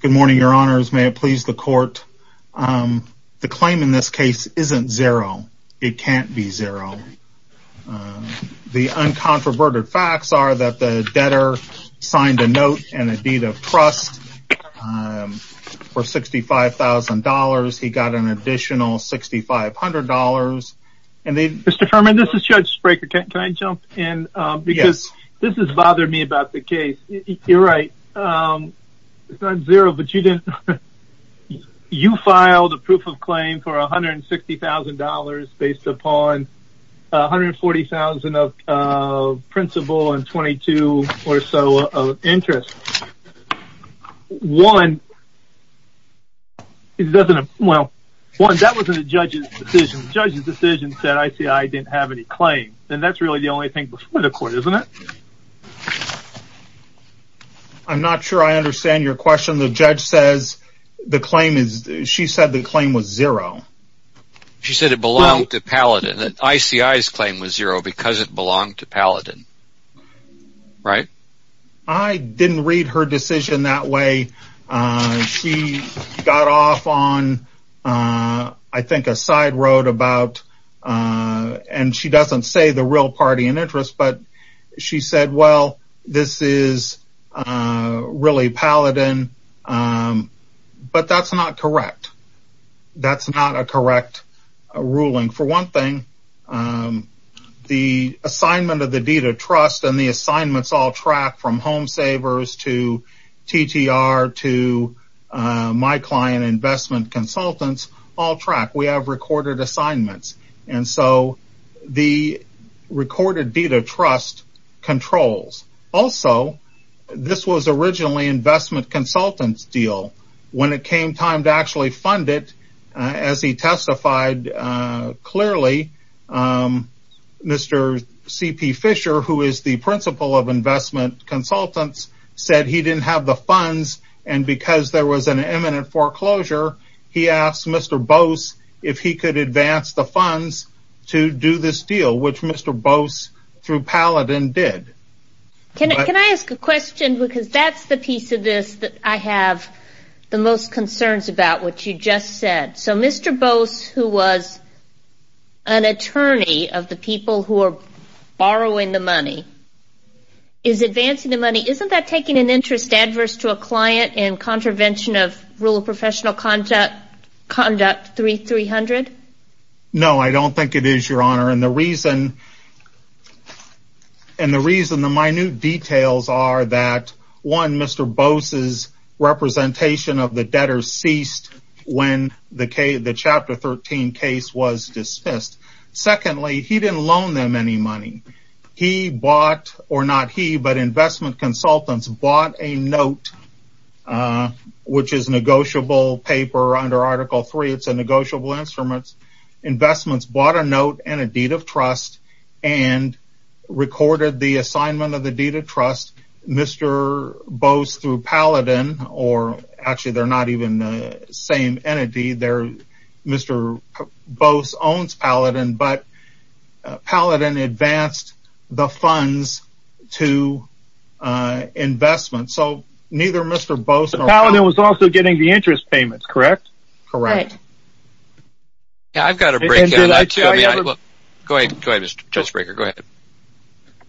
Good morning, your honors. May it please the court. The claim in this case isn't zero. It can't be zero. The uncontroverted facts are that the debtor signed a note and a deed of trust for $65,000. He got an additional $6,500 and they- Mr. Furman, this is Judge Spraker. Can I jump in? Yes. This has bothered me about the case. You're right. It's not zero, but you didn't- You filed a proof of claim for $160,000 based upon $140,000 of principal and $22,000 or so of interest. One, it doesn't- well, one, that wasn't a judge's decision. The judge's decision said ICI didn't have any claim. And that's really the only thing before the court, isn't it? I'm not sure I understand your question. The judge says the claim is- she said the claim was zero. She said it belonged to Paladin. That ICI's claim was zero because it belonged to Paladin. Right? I didn't read her decision that way. She got off on, I think, a side road about- and she doesn't say the real party in interest, but she said, well, this is really Paladin. But that's not correct. That's not a correct ruling. For one thing, the assignment of the deed of trust and the assignments all track from home savers to TTR to my client investment consultants all track. We have recorded assignments. And so, the recorded deed of trust controls. Also, this was originally investment consultants deal. When it came time to actually fund it, as he testified clearly, Mr. C.P. Fisher, who is the principal of investment consultants, said he didn't have the funds. And because there was an imminent foreclosure, he asked Mr. Bose if he could advance the funds to do this deal, which Mr. Bose through Paladin did. Can I ask a question? Because that's the piece of this that I have the most concerns about, what you just said. So, Mr. Bose, who was an attorney of the people who are borrowing the money, is advancing the money, isn't that taking an interest adverse to a client in contravention of rule of professional conduct 3300? No, I don't think it is, Your Honor. And the reason the minute details are that, one, Mr. Bose's representation of the debtor ceased when the Chapter 13 case was dismissed. Secondly, he didn't loan them any money. He bought, or not he, but investment consultants bought a note, which is negotiable paper under Article 3. It's a negotiable instrument. Investments bought a note and a deed of trust and recorded the assignment of the deed of trust. Mr. Bose through Paladin, or actually they're not even the same entity, Mr. Bose owns Paladin, but Paladin advanced the funds to investment. So, neither Mr. Bose or Paladin was also getting the interest payments, correct? Correct. Go ahead, Mr. Judge Breaker, go ahead.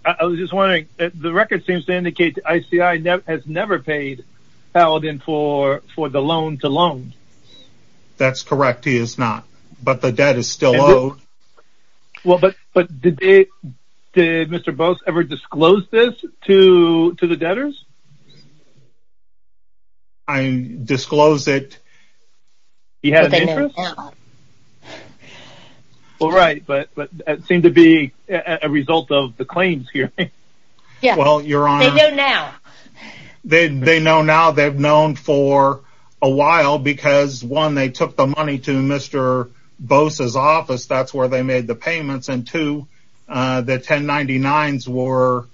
I was just wondering, the record seems to indicate that ICI has never paid Paladin for the loan to loan. That's correct, he has not, but the debt is still owed. Well, but did Mr. Bose ever disclose this to the debtors? I disclosed it. He had an interest? No. All right, but it seemed to be a result of the claims hearing. Yes, they know now. They know now, they've known for a while because one, they took the money to Mr. Bose's office, that's where they made the payments, and two, the 1099s were,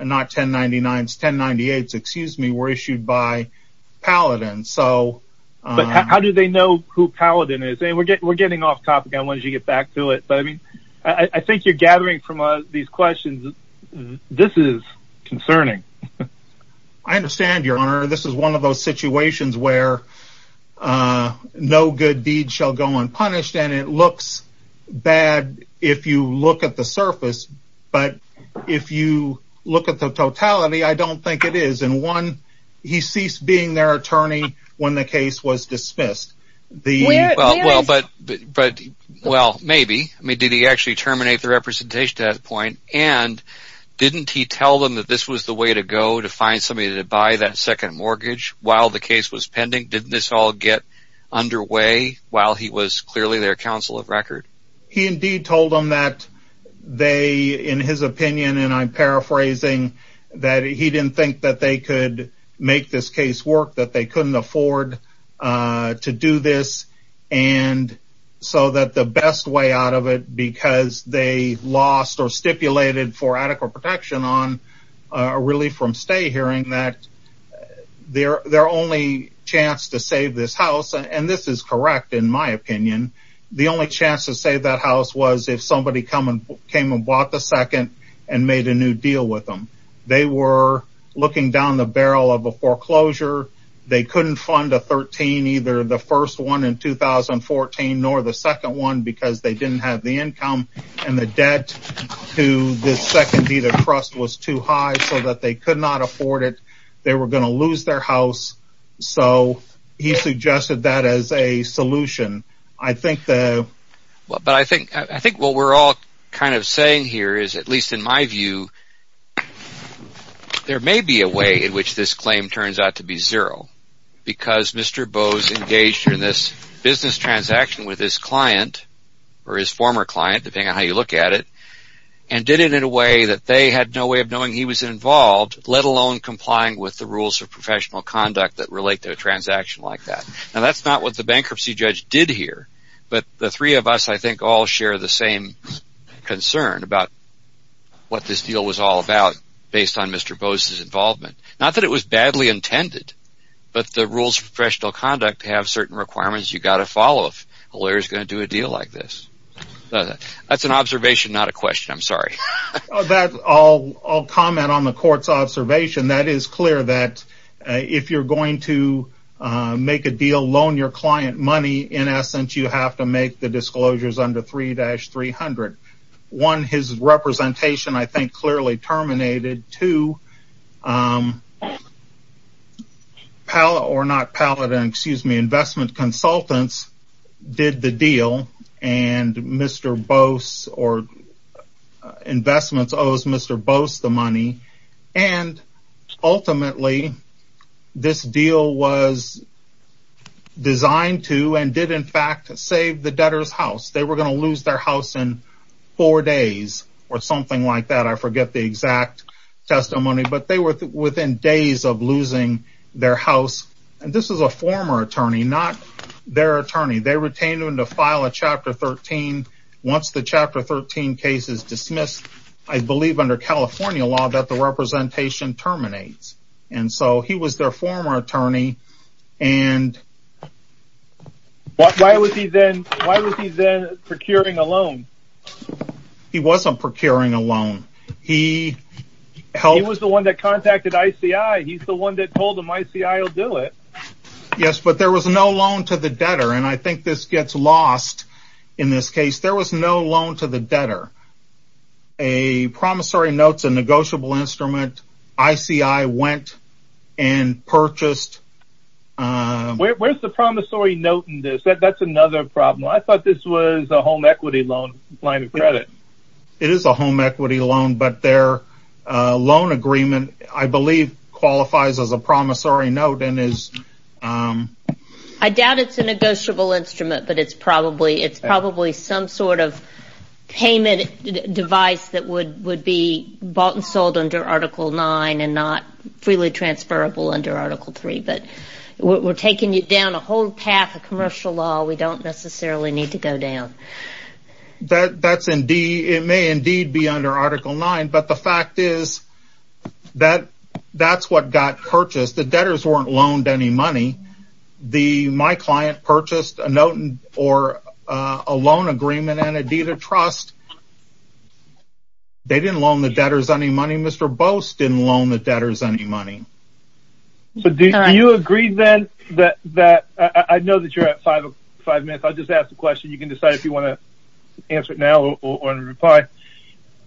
not 1099s, excuse me, were issued by Paladin. How do they know who Paladin is? We're getting off topic, I wanted you to get back to it, but I think you're gathering from these questions, this is concerning. I understand, Your Honor, this is one of those situations where no good deed shall go unpunished, and it looks bad if you look at the surface, but if you look at the totality, I don't think it is, and one, he ceased being their attorney when the case was dismissed. Well, maybe, did he actually terminate the representation at that point, and didn't he tell them that this was the way to go to find somebody to buy that second mortgage while the case was pending? Didn't this all get underway while he was clearly their counsel of record? He indeed told them that they, in his opinion, and I'm paraphrasing, that he didn't think that they could make this case work, that they couldn't afford to do this, and so that the best way out of it, because they lost or stipulated for adequate protection on a relief from stay hearing, that their only chance to save this house, and this is correct in my opinion, the only chance to save that house was if somebody came and bought the second and made a new deal with them. They were looking down the barrel of a foreclosure. They couldn't fund a 13, either the first one in 2014, nor the second one because they didn't have the income, and the debt to this second deed of trust was too high so that they could not afford it. They were going to lose their house, so he I think what we're all kind of saying here is, at least in my view, there may be a way in which this claim turns out to be zero because Mr. Bowes engaged in this business transaction with his client, or his former client, depending on how you look at it, and did it in a way that they had no way of knowing he was involved, let alone complying with the rules of professional conduct that relate to a transaction like that. Now, that's not what the bankruptcy judge did here, but the three of us, I think, all share the same concern about what this deal was all about based on Mr. Bowes' involvement. Not that it was badly intended, but the rules of professional conduct have certain requirements you've got to follow if a lawyer is going to do a deal like this. That's an observation, not a question. I'm sorry. I'll comment on the court's observation. That is clear that if you're going to make a deal, loan your client money, in essence, you have to make the disclosures under 3-300. One, his representation, I think, clearly terminated. Two, investment consultants did the deal, and Mr. Bowes or investments owes Mr. Bowes the money, and ultimately, this deal was designed to and did, in fact, save the debtor's house. They were going to lose their house in four days or something like that. I forget the exact testimony, but they were within days of losing their house. This is a former attorney, not their attorney. They retained him to file a Chapter 13. Once the Chapter 13 case is dismissed, I believe under California law that the representation terminates. He was their former attorney. Why was he then procuring a loan? He wasn't procuring a loan. He was the one that contacted ICI. He's the one that told them ICI will do it. Yes, but there was no loan to the debtor, and I think this gets lost in this case. There was no promissory notes, a negotiable instrument. ICI went and purchased. Where's the promissory note in this? That's another problem. I thought this was a home equity loan. It is a home equity loan, but their loan agreement, I believe, qualifies as a promissory note. I doubt it's a negotiable instrument, but it's probably some sort of payment device would be bought and sold under Article 9 and not freely transferable under Article 3. We're taking it down a whole path of commercial law. We don't necessarily need to go down. It may indeed be under Article 9, but the fact is that's what got purchased. The debtors weren't loaned any money. My client purchased a note or a loan agreement and a deed of trust. They didn't loan the debtors any money. Mr. Bost didn't loan the debtors any money. Do you agree, then, that I know you're at five minutes. I'll just ask a question. You can decide if you want to answer it now or reply.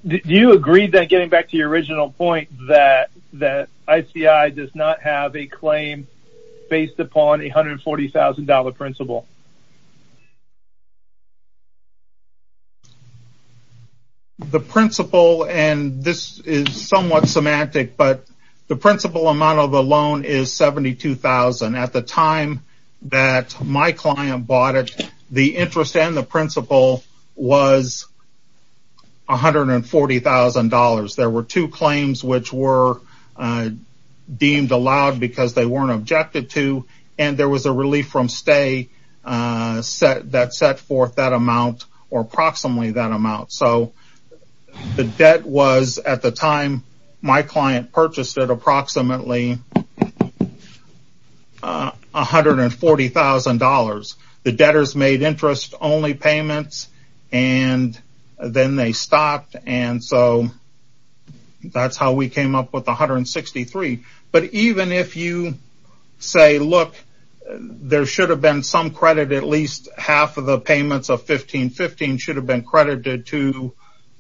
Do you agree, then, getting back to your original point, that ICI does not have a claim based upon a $140,000 principle? The principle, and this is somewhat semantic, but the principle amount of the loan is $72,000. At the time that my client bought it, the interest and the principle was $140,000. There were two claims which were deemed allowed because they weren't objected to, and there was a relief from ICI that set forth that amount or approximately that amount. The debt was, at the time my client purchased it, approximately $140,000. The debtors made interest-only payments, and then they stopped, and so that's how we came up with $163,000. Even if you say, look, there should have been some credit, at least half of the payments of $15,000 should have been credited to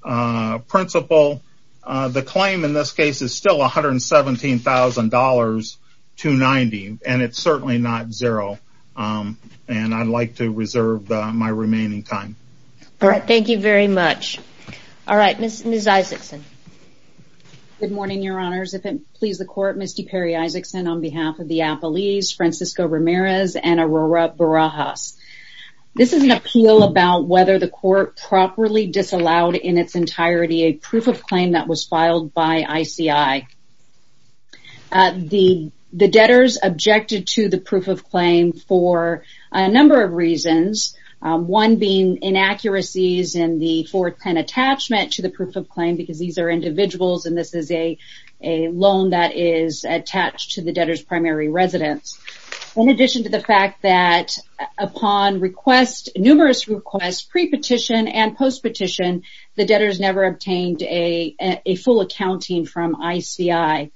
the principle, the claim in this case is still $117,000 to $90,000, and it's certainly not zero. I'd like to reserve my remaining time. Thank you very much. All right. Ms. Isakson. Good morning, Your Honors. If it pleases the Court, Misty Perry-Isakson on behalf of the Applees, Francisco Ramirez, and Aurora Barajas. This is an appeal about whether the Court properly disallowed in its entirety a proof of claim that was filed by ICI. The debtors objected to the proof of claim for a number of reasons, one being inaccuracies in the 410 attachment to the proof of claim, because these are individuals and this is a loan that is attached to the debtor's primary residence. In addition to the fact that upon numerous requests, pre-petition and post-petition, the debtors never obtained a full accounting from ICI.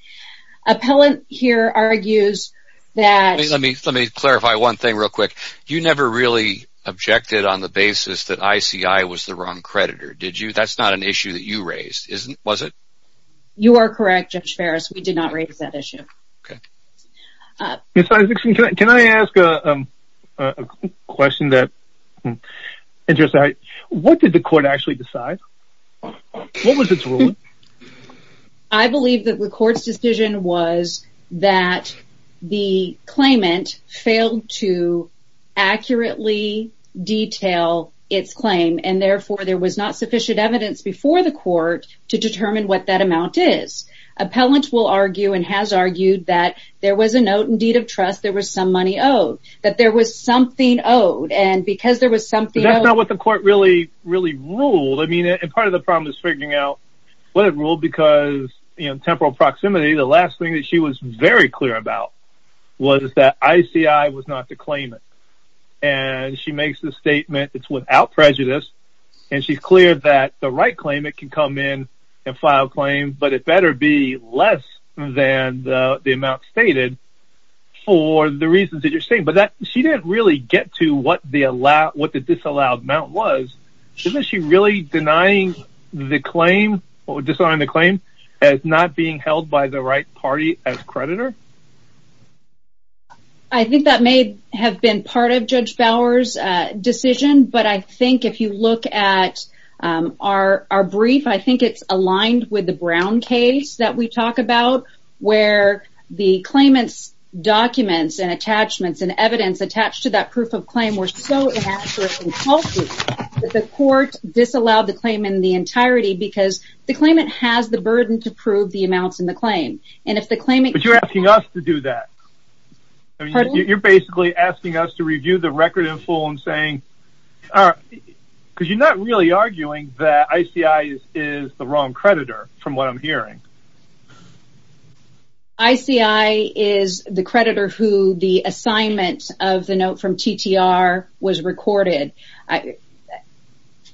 Appellant here argues that... Let me clarify one thing real quick. You never really objected on the basis that ICI was the wrong creditor, did you? That's not an issue that you raised, was it? You are correct, Judge Ferris. We did not raise that issue. Okay. Ms. Isakson, can I ask a question that... What did the Court actually decide? What was its ruling? I believe that the Court's decision was that the claimant failed to accurately detail its claim, and therefore there was not sufficient evidence before the Court to determine what that amount is. Appellant will argue and has argued that there was a note and deed of trust, there was some money owed, that there was something owed, and because there was something owed... That's not what the Court really ruled. Part of the problem is figuring out what it ruled, because in temporal proximity, the last thing that she was very clear about was that ICI was not to claim it. And she makes the statement, it's without prejudice, and she's clear that the right claimant can come in and file a claim, but it better be less than the amount stated for the reasons that you're saying. But she didn't really get to what the disallowed amount was. Isn't she really denying the claim or disallowing the claim as not being I think that may have been part of Judge Bauer's decision, but I think if you look at our brief, I think it's aligned with the Brown case that we talk about, where the claimant's documents and attachments and evidence attached to that proof of claim were so inaccurate and faulty that the Court disallowed the claim in the entirety because the claimant has the burden to prove the amounts in the claim. But you're asking us to do that. You're basically asking us to review the record in full and saying... Because you're not really arguing that ICI is the wrong creditor, from what I'm hearing. ICI is the creditor who the assignment of the note from TTR was recorded.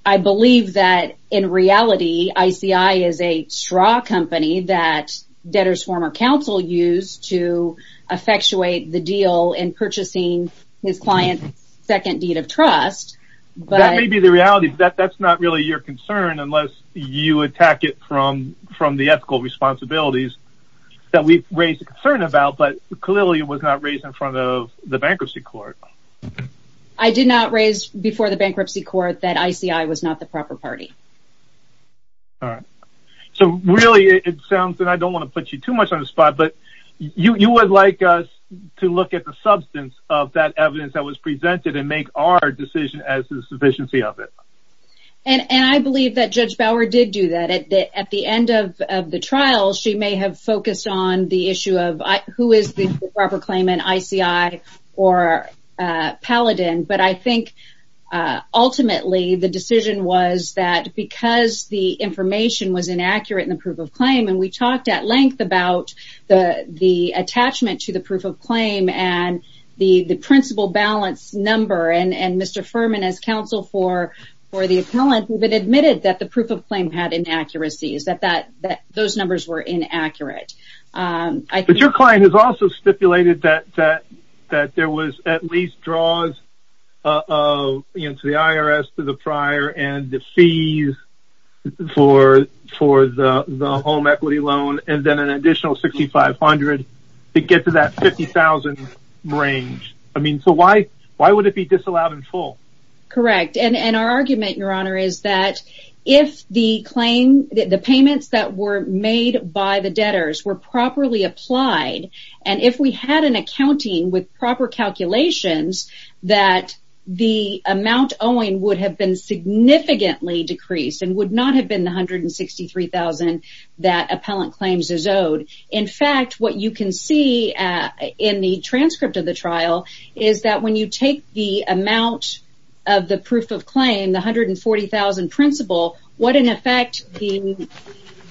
I believe that in reality, ICI is a straw company that debtor's former counsel used to effectuate the deal in purchasing his client's second deed of trust. That may be the reality, but that's not really your concern unless you attack it from the ethical responsibilities that we've raised a concern about, but clearly it was not raised in front of the Bankruptcy Court. I did not raise before the Bankruptcy Court that ICI was not the proper party. All right. So really, it sounds that I don't want to put you too much on the spot, but you would like us to look at the substance of that evidence that was presented and make our decision as the sufficiency of it. And I believe that Judge Bauer did do that. At the end of or Paladin, but I think ultimately the decision was that because the information was inaccurate in the proof of claim, and we talked at length about the attachment to the proof of claim and the principal balance number and Mr. Furman as counsel for the appellant who had admitted that the proof of claim had inaccuracies, that those numbers were inaccurate. But your client has also stipulated that there was at least draws of the IRS to the prior and the fees for the home equity loan and then an additional $6,500 to get to that $50,000 range. I mean, so why would it be disallowed in full? Correct. And our argument, Your Honor, is that if the claim, the payments that were made by the debtors were properly applied, and if we had an accounting with proper calculations, that the amount owing would have been significantly decreased and would not have been the $163,000 that appellant claims is owed. In fact, what you can see in the transcript of the trial is that when you take the amount of the proof of claim, the $140,000 principal, what in effect the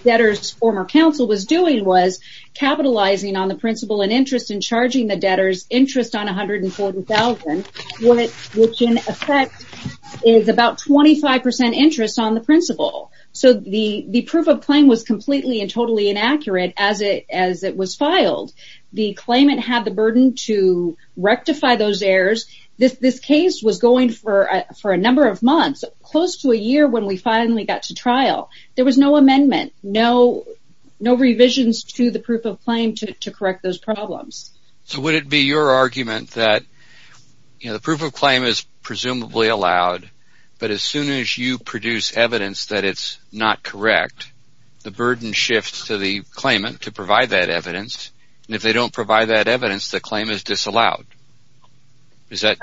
debtor's former counsel was doing was capitalizing on the principal and interest in charging the debtor's interest on $140,000, which in effect is about 25% interest on the principal. So the proof of claim was completely and totally inaccurate as it was filed. The claimant had the burden to rectify those problems. The case was going for a number of months, close to a year when we finally got to trial. There was no amendment, no revisions to the proof of claim to correct those problems. So would it be your argument that the proof of claim is presumably allowed, but as soon as you produce evidence that it's not correct, the burden shifts to the claimant to provide that evidence, and if they don't provide that evidence, the claim is disallowed? Is that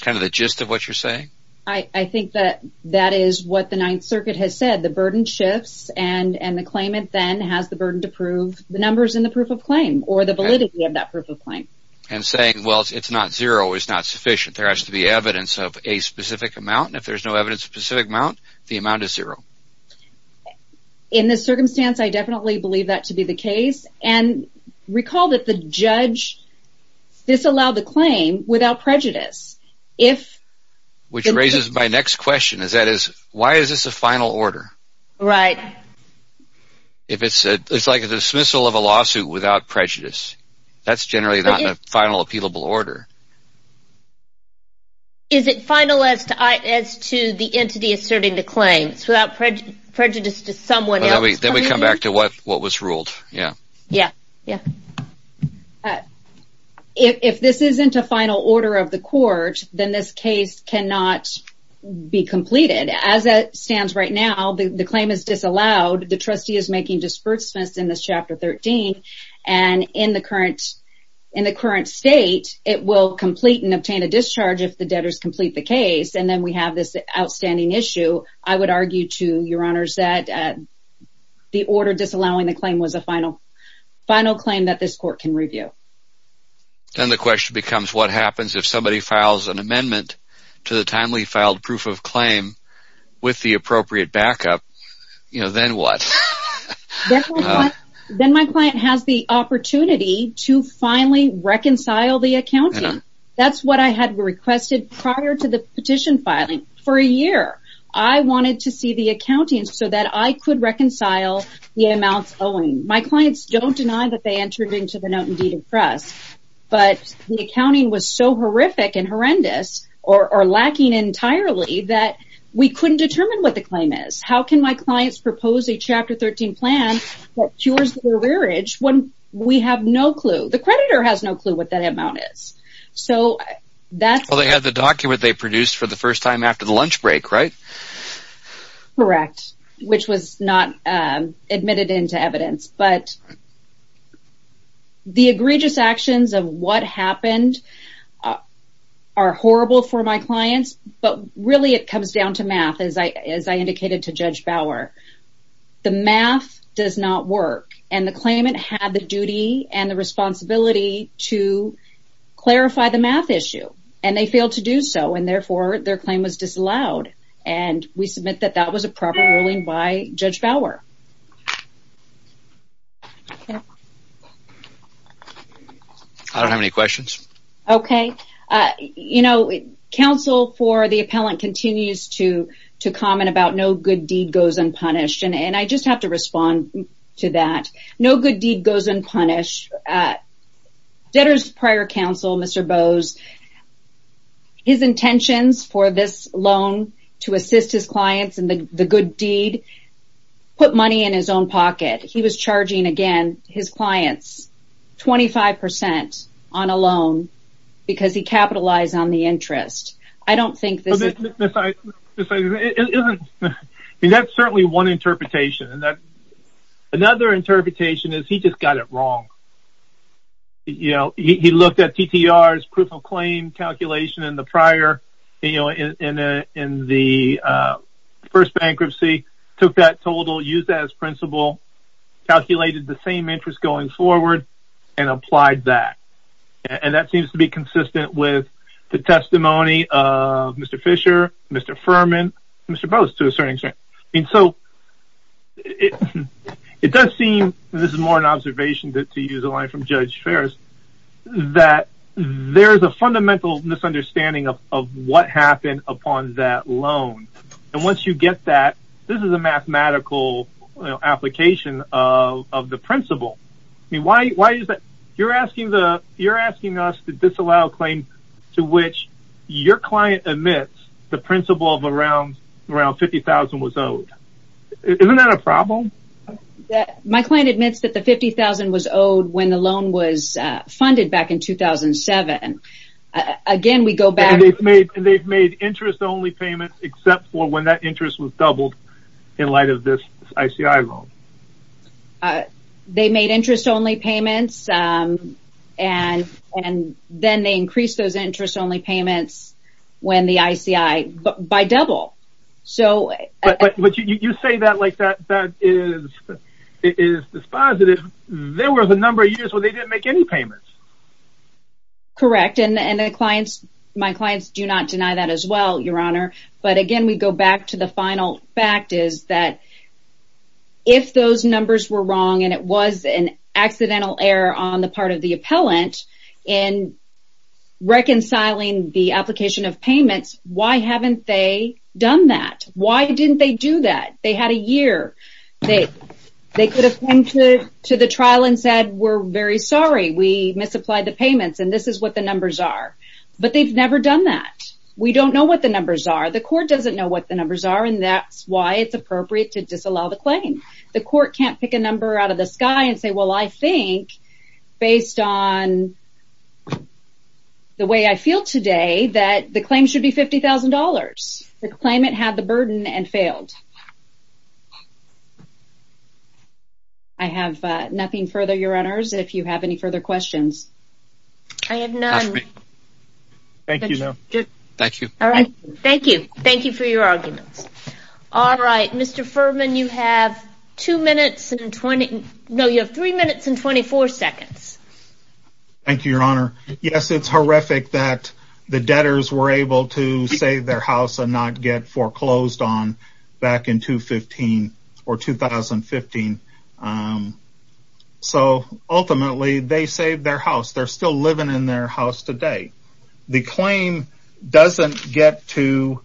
kind of the gist of what you're saying? I think that that is what the Ninth Circuit has said. The burden shifts, and the claimant then has the burden to prove the numbers in the proof of claim or the validity of that proof of claim. And saying, well, it's not zero is not sufficient. There has to be evidence of a specific amount, and if there's no evidence of a specific amount, the amount is zero. In this circumstance, I definitely believe that to be the case, and recall that the judge disallowed the claim without prejudice. Which raises my next question. Why is this a final order? It's like a dismissal of a lawsuit without prejudice. That's generally not a final, appealable order. Is it final as to the entity asserting the claim? Without prejudice to someone else. Then we come back to what was ruled. If this isn't a final order of the court, then this case cannot be completed. As it stands right now, the claim is disallowed. The trustee is making disbursements in this Chapter 13, and in the current state, it will complete and obtain a discharge if the debtors complete the order. The order disallowing the claim was a final claim that this court can review. Then the question becomes, what happens if somebody files an amendment to the timely filed proof of claim with the appropriate backup? Then what? Then my client has the opportunity to finally reconcile the accounting. That's what I had requested prior to the petition filing for a year. I wanted to see the accounting so that I could reconcile the amounts owing. My clients don't deny that they entered into the Note-in-Deed of Trust, but the accounting was so horrific and horrendous, or lacking entirely, that we couldn't determine what the claim is. How can my clients propose a Chapter 13 plan that cures the rearage when we have no clue? The creditor has no clue what that amount is. Well, they have the document they produced for the first time after the lunch break, right? Correct, which was not admitted into evidence. The egregious actions of what happened are horrible for my clients, but really it comes down to math, as I indicated to Judge Bauer. The math does not work, and the claimant had the duty and the responsibility to clarify the math issue. They failed to do so, and therefore their claim was disallowed. We submit that that was a proper ruling by Judge Bauer. I don't have any questions. Okay. Counsel for the appellant continues to comment about no good deed goes unpunished, and I just have to respond to that. No good deed goes unpunished. Debtor's prior counsel, Mr. Bowes, his intentions for this loan to assist his clients in the good deed put money in his own pocket. He was charging, again, his clients 25 percent on a loan because he capitalized on the interest. That's certainly one interpretation. Another interpretation is he just got it wrong. He looked at TTR's proof-of-claim calculation in the first bankruptcy, took that total, used that as principle, calculated the same interest going forward, and applied that. That seems to be consistent with the testimony of Mr. Fisher, Mr. Furman, Mr. Bowes, to a certain extent. It does seem, and this is more an observation to use a line from Judge Ferris, that there's a fundamental misunderstanding of what happened upon that loan. Once you get that, this is a mathematical application of the principle. You're asking us to disallow a claim to which your client admits the principle of around $50,000 was owed. Isn't that a problem? My client admits that the $50,000 was owed when the loan was funded back in 2007. They've made interest-only payments except for when that interest was doubled in light of this ICI loan. They made interest-only payments, and then they increased those interest-only payments by double. But you say that like that is dispositive. There was a number of years where they didn't make any payments. Correct. My clients do not deny that as well, Your Honor. Again, we go back to the final fact is that if those numbers were wrong and it was an accidental error on the part of the client, why didn't they do that? They had a year. They could have come to the trial and said, we're very sorry. We misapplied the payments, and this is what the numbers are. But they've never done that. We don't know what the numbers are. The court doesn't know what the numbers are, and that's why it's appropriate to disallow the claim. The court can't pick a number out of the sky and say, well, I think, based on the way I feel today, that the claim should be $50,000. The claimant had the burden and failed. I have nothing further, Your Honors, if you have any further questions. I have none. Thank you, Your Honor. Thank you. All right. Thank you. Thank you for your arguments. All right. Mr. Furman, you have two minutes and 20, no, you have three minutes and 24 seconds. Thank you, Your Honor. Yes, it's horrific that the debtors were able to save their house and not get foreclosed on back in 2015. So ultimately, they saved their house. They're still living in their house today. The claim doesn't get to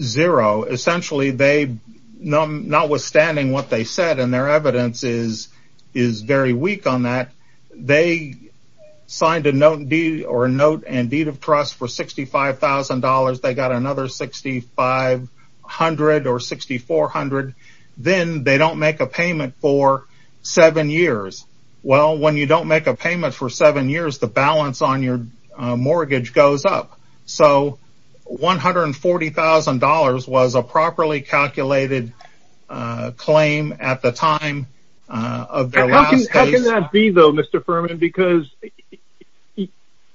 zero. Essentially, notwithstanding what they said and their evidence is very weak on that, they signed a note and deed of trust for $65,000. They got another $6,500 or $6,400. Then they don't make a payment for seven years. Well, when you don't make a payment for seven years, the balance on your mortgage goes up. So $140,000 was a properly calculated claim at the time of their last case. How can that be, though, Mr. Furman? Because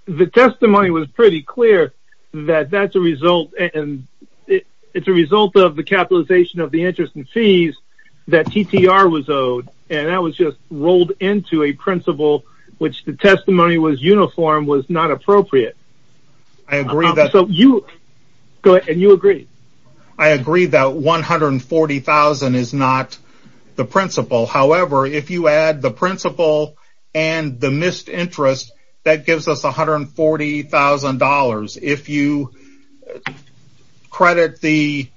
the testimony was pretty clear that that's a result, and it's a result of the capitalization of the interest and fees that TTR was owed, and that was just rolled into a principle which the testimony was uniform was not appropriate. I agree that... $140,000 is not the principle. However, if you add the principle and the missed interest, that gives us $140,000. If you credit the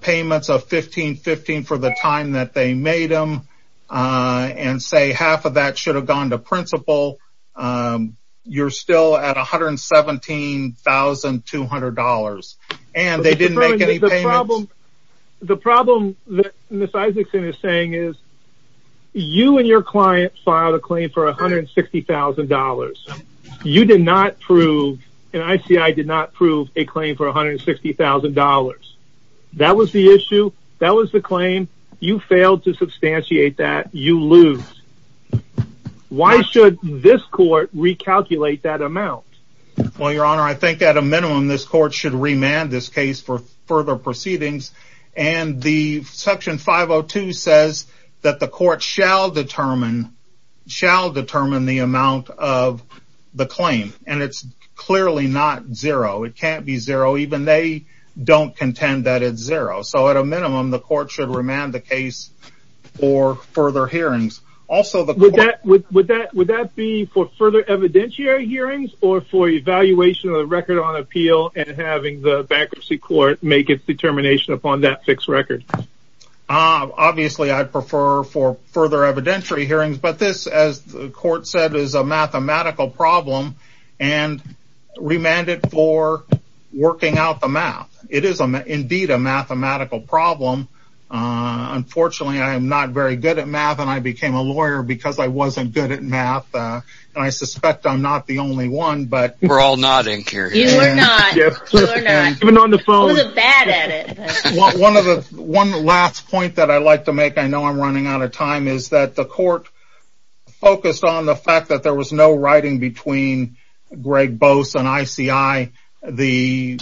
payments of 1515 for the time that they made them and say half of that should have gone to principle, you're still at $117,200. They didn't make any payments. The problem that Ms. Isaacson is saying is you and your client filed a claim for $160,000. You did not prove, and ICI did not prove, a claim for $160,000. That was the issue. That was the claim. You failed to substantiate that. You lose. Why should this court recalculate that amount? Well, Your Honor, I think at a minimum, this court should remand this case for further proceedings, and the section 502 says that the court shall determine the amount of the claim, and it's clearly not zero. It can't be zero. Even they don't contend that it's zero, so at a minimum, the court should remand the case for further hearings. Also, the court... Would that be for further evidentiary hearings or for evaluation of the record on appeal and having the bankruptcy court make its determination upon that fixed record? Obviously, I prefer for further evidentiary hearings, but this, as the court said, is a mathematical problem and remanded for working out the math. It is indeed a mathematical problem. Unfortunately, I am not very good at math, and I became a lawyer because I wasn't good at math, and I suspect I'm not the only one, but... We're all nodding here. You are not. You are not. Even on the phone. Who's bad at it? One last point that I'd like to make, I know I'm running out of time, is that the court focused on the fact that there was no writing between Greg Bose and ICI. They've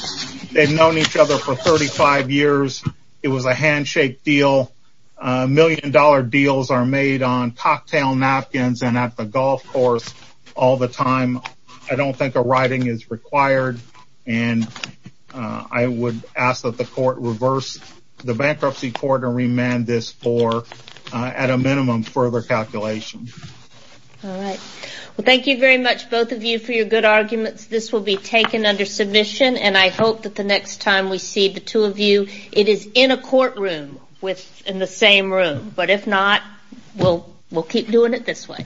known each other for 35 years. It was a handshake deal. Million dollar deals are made on all the time. I don't think a writing is required, and I would ask that the court reverse the bankruptcy court and remand this for, at a minimum, further calculation. All right. Well, thank you very much, both of you, for your good arguments. This will be taken under submission, and I hope that the next time we see the two of you, it is in a courtroom in the same room, but if not, we'll keep doing it this way.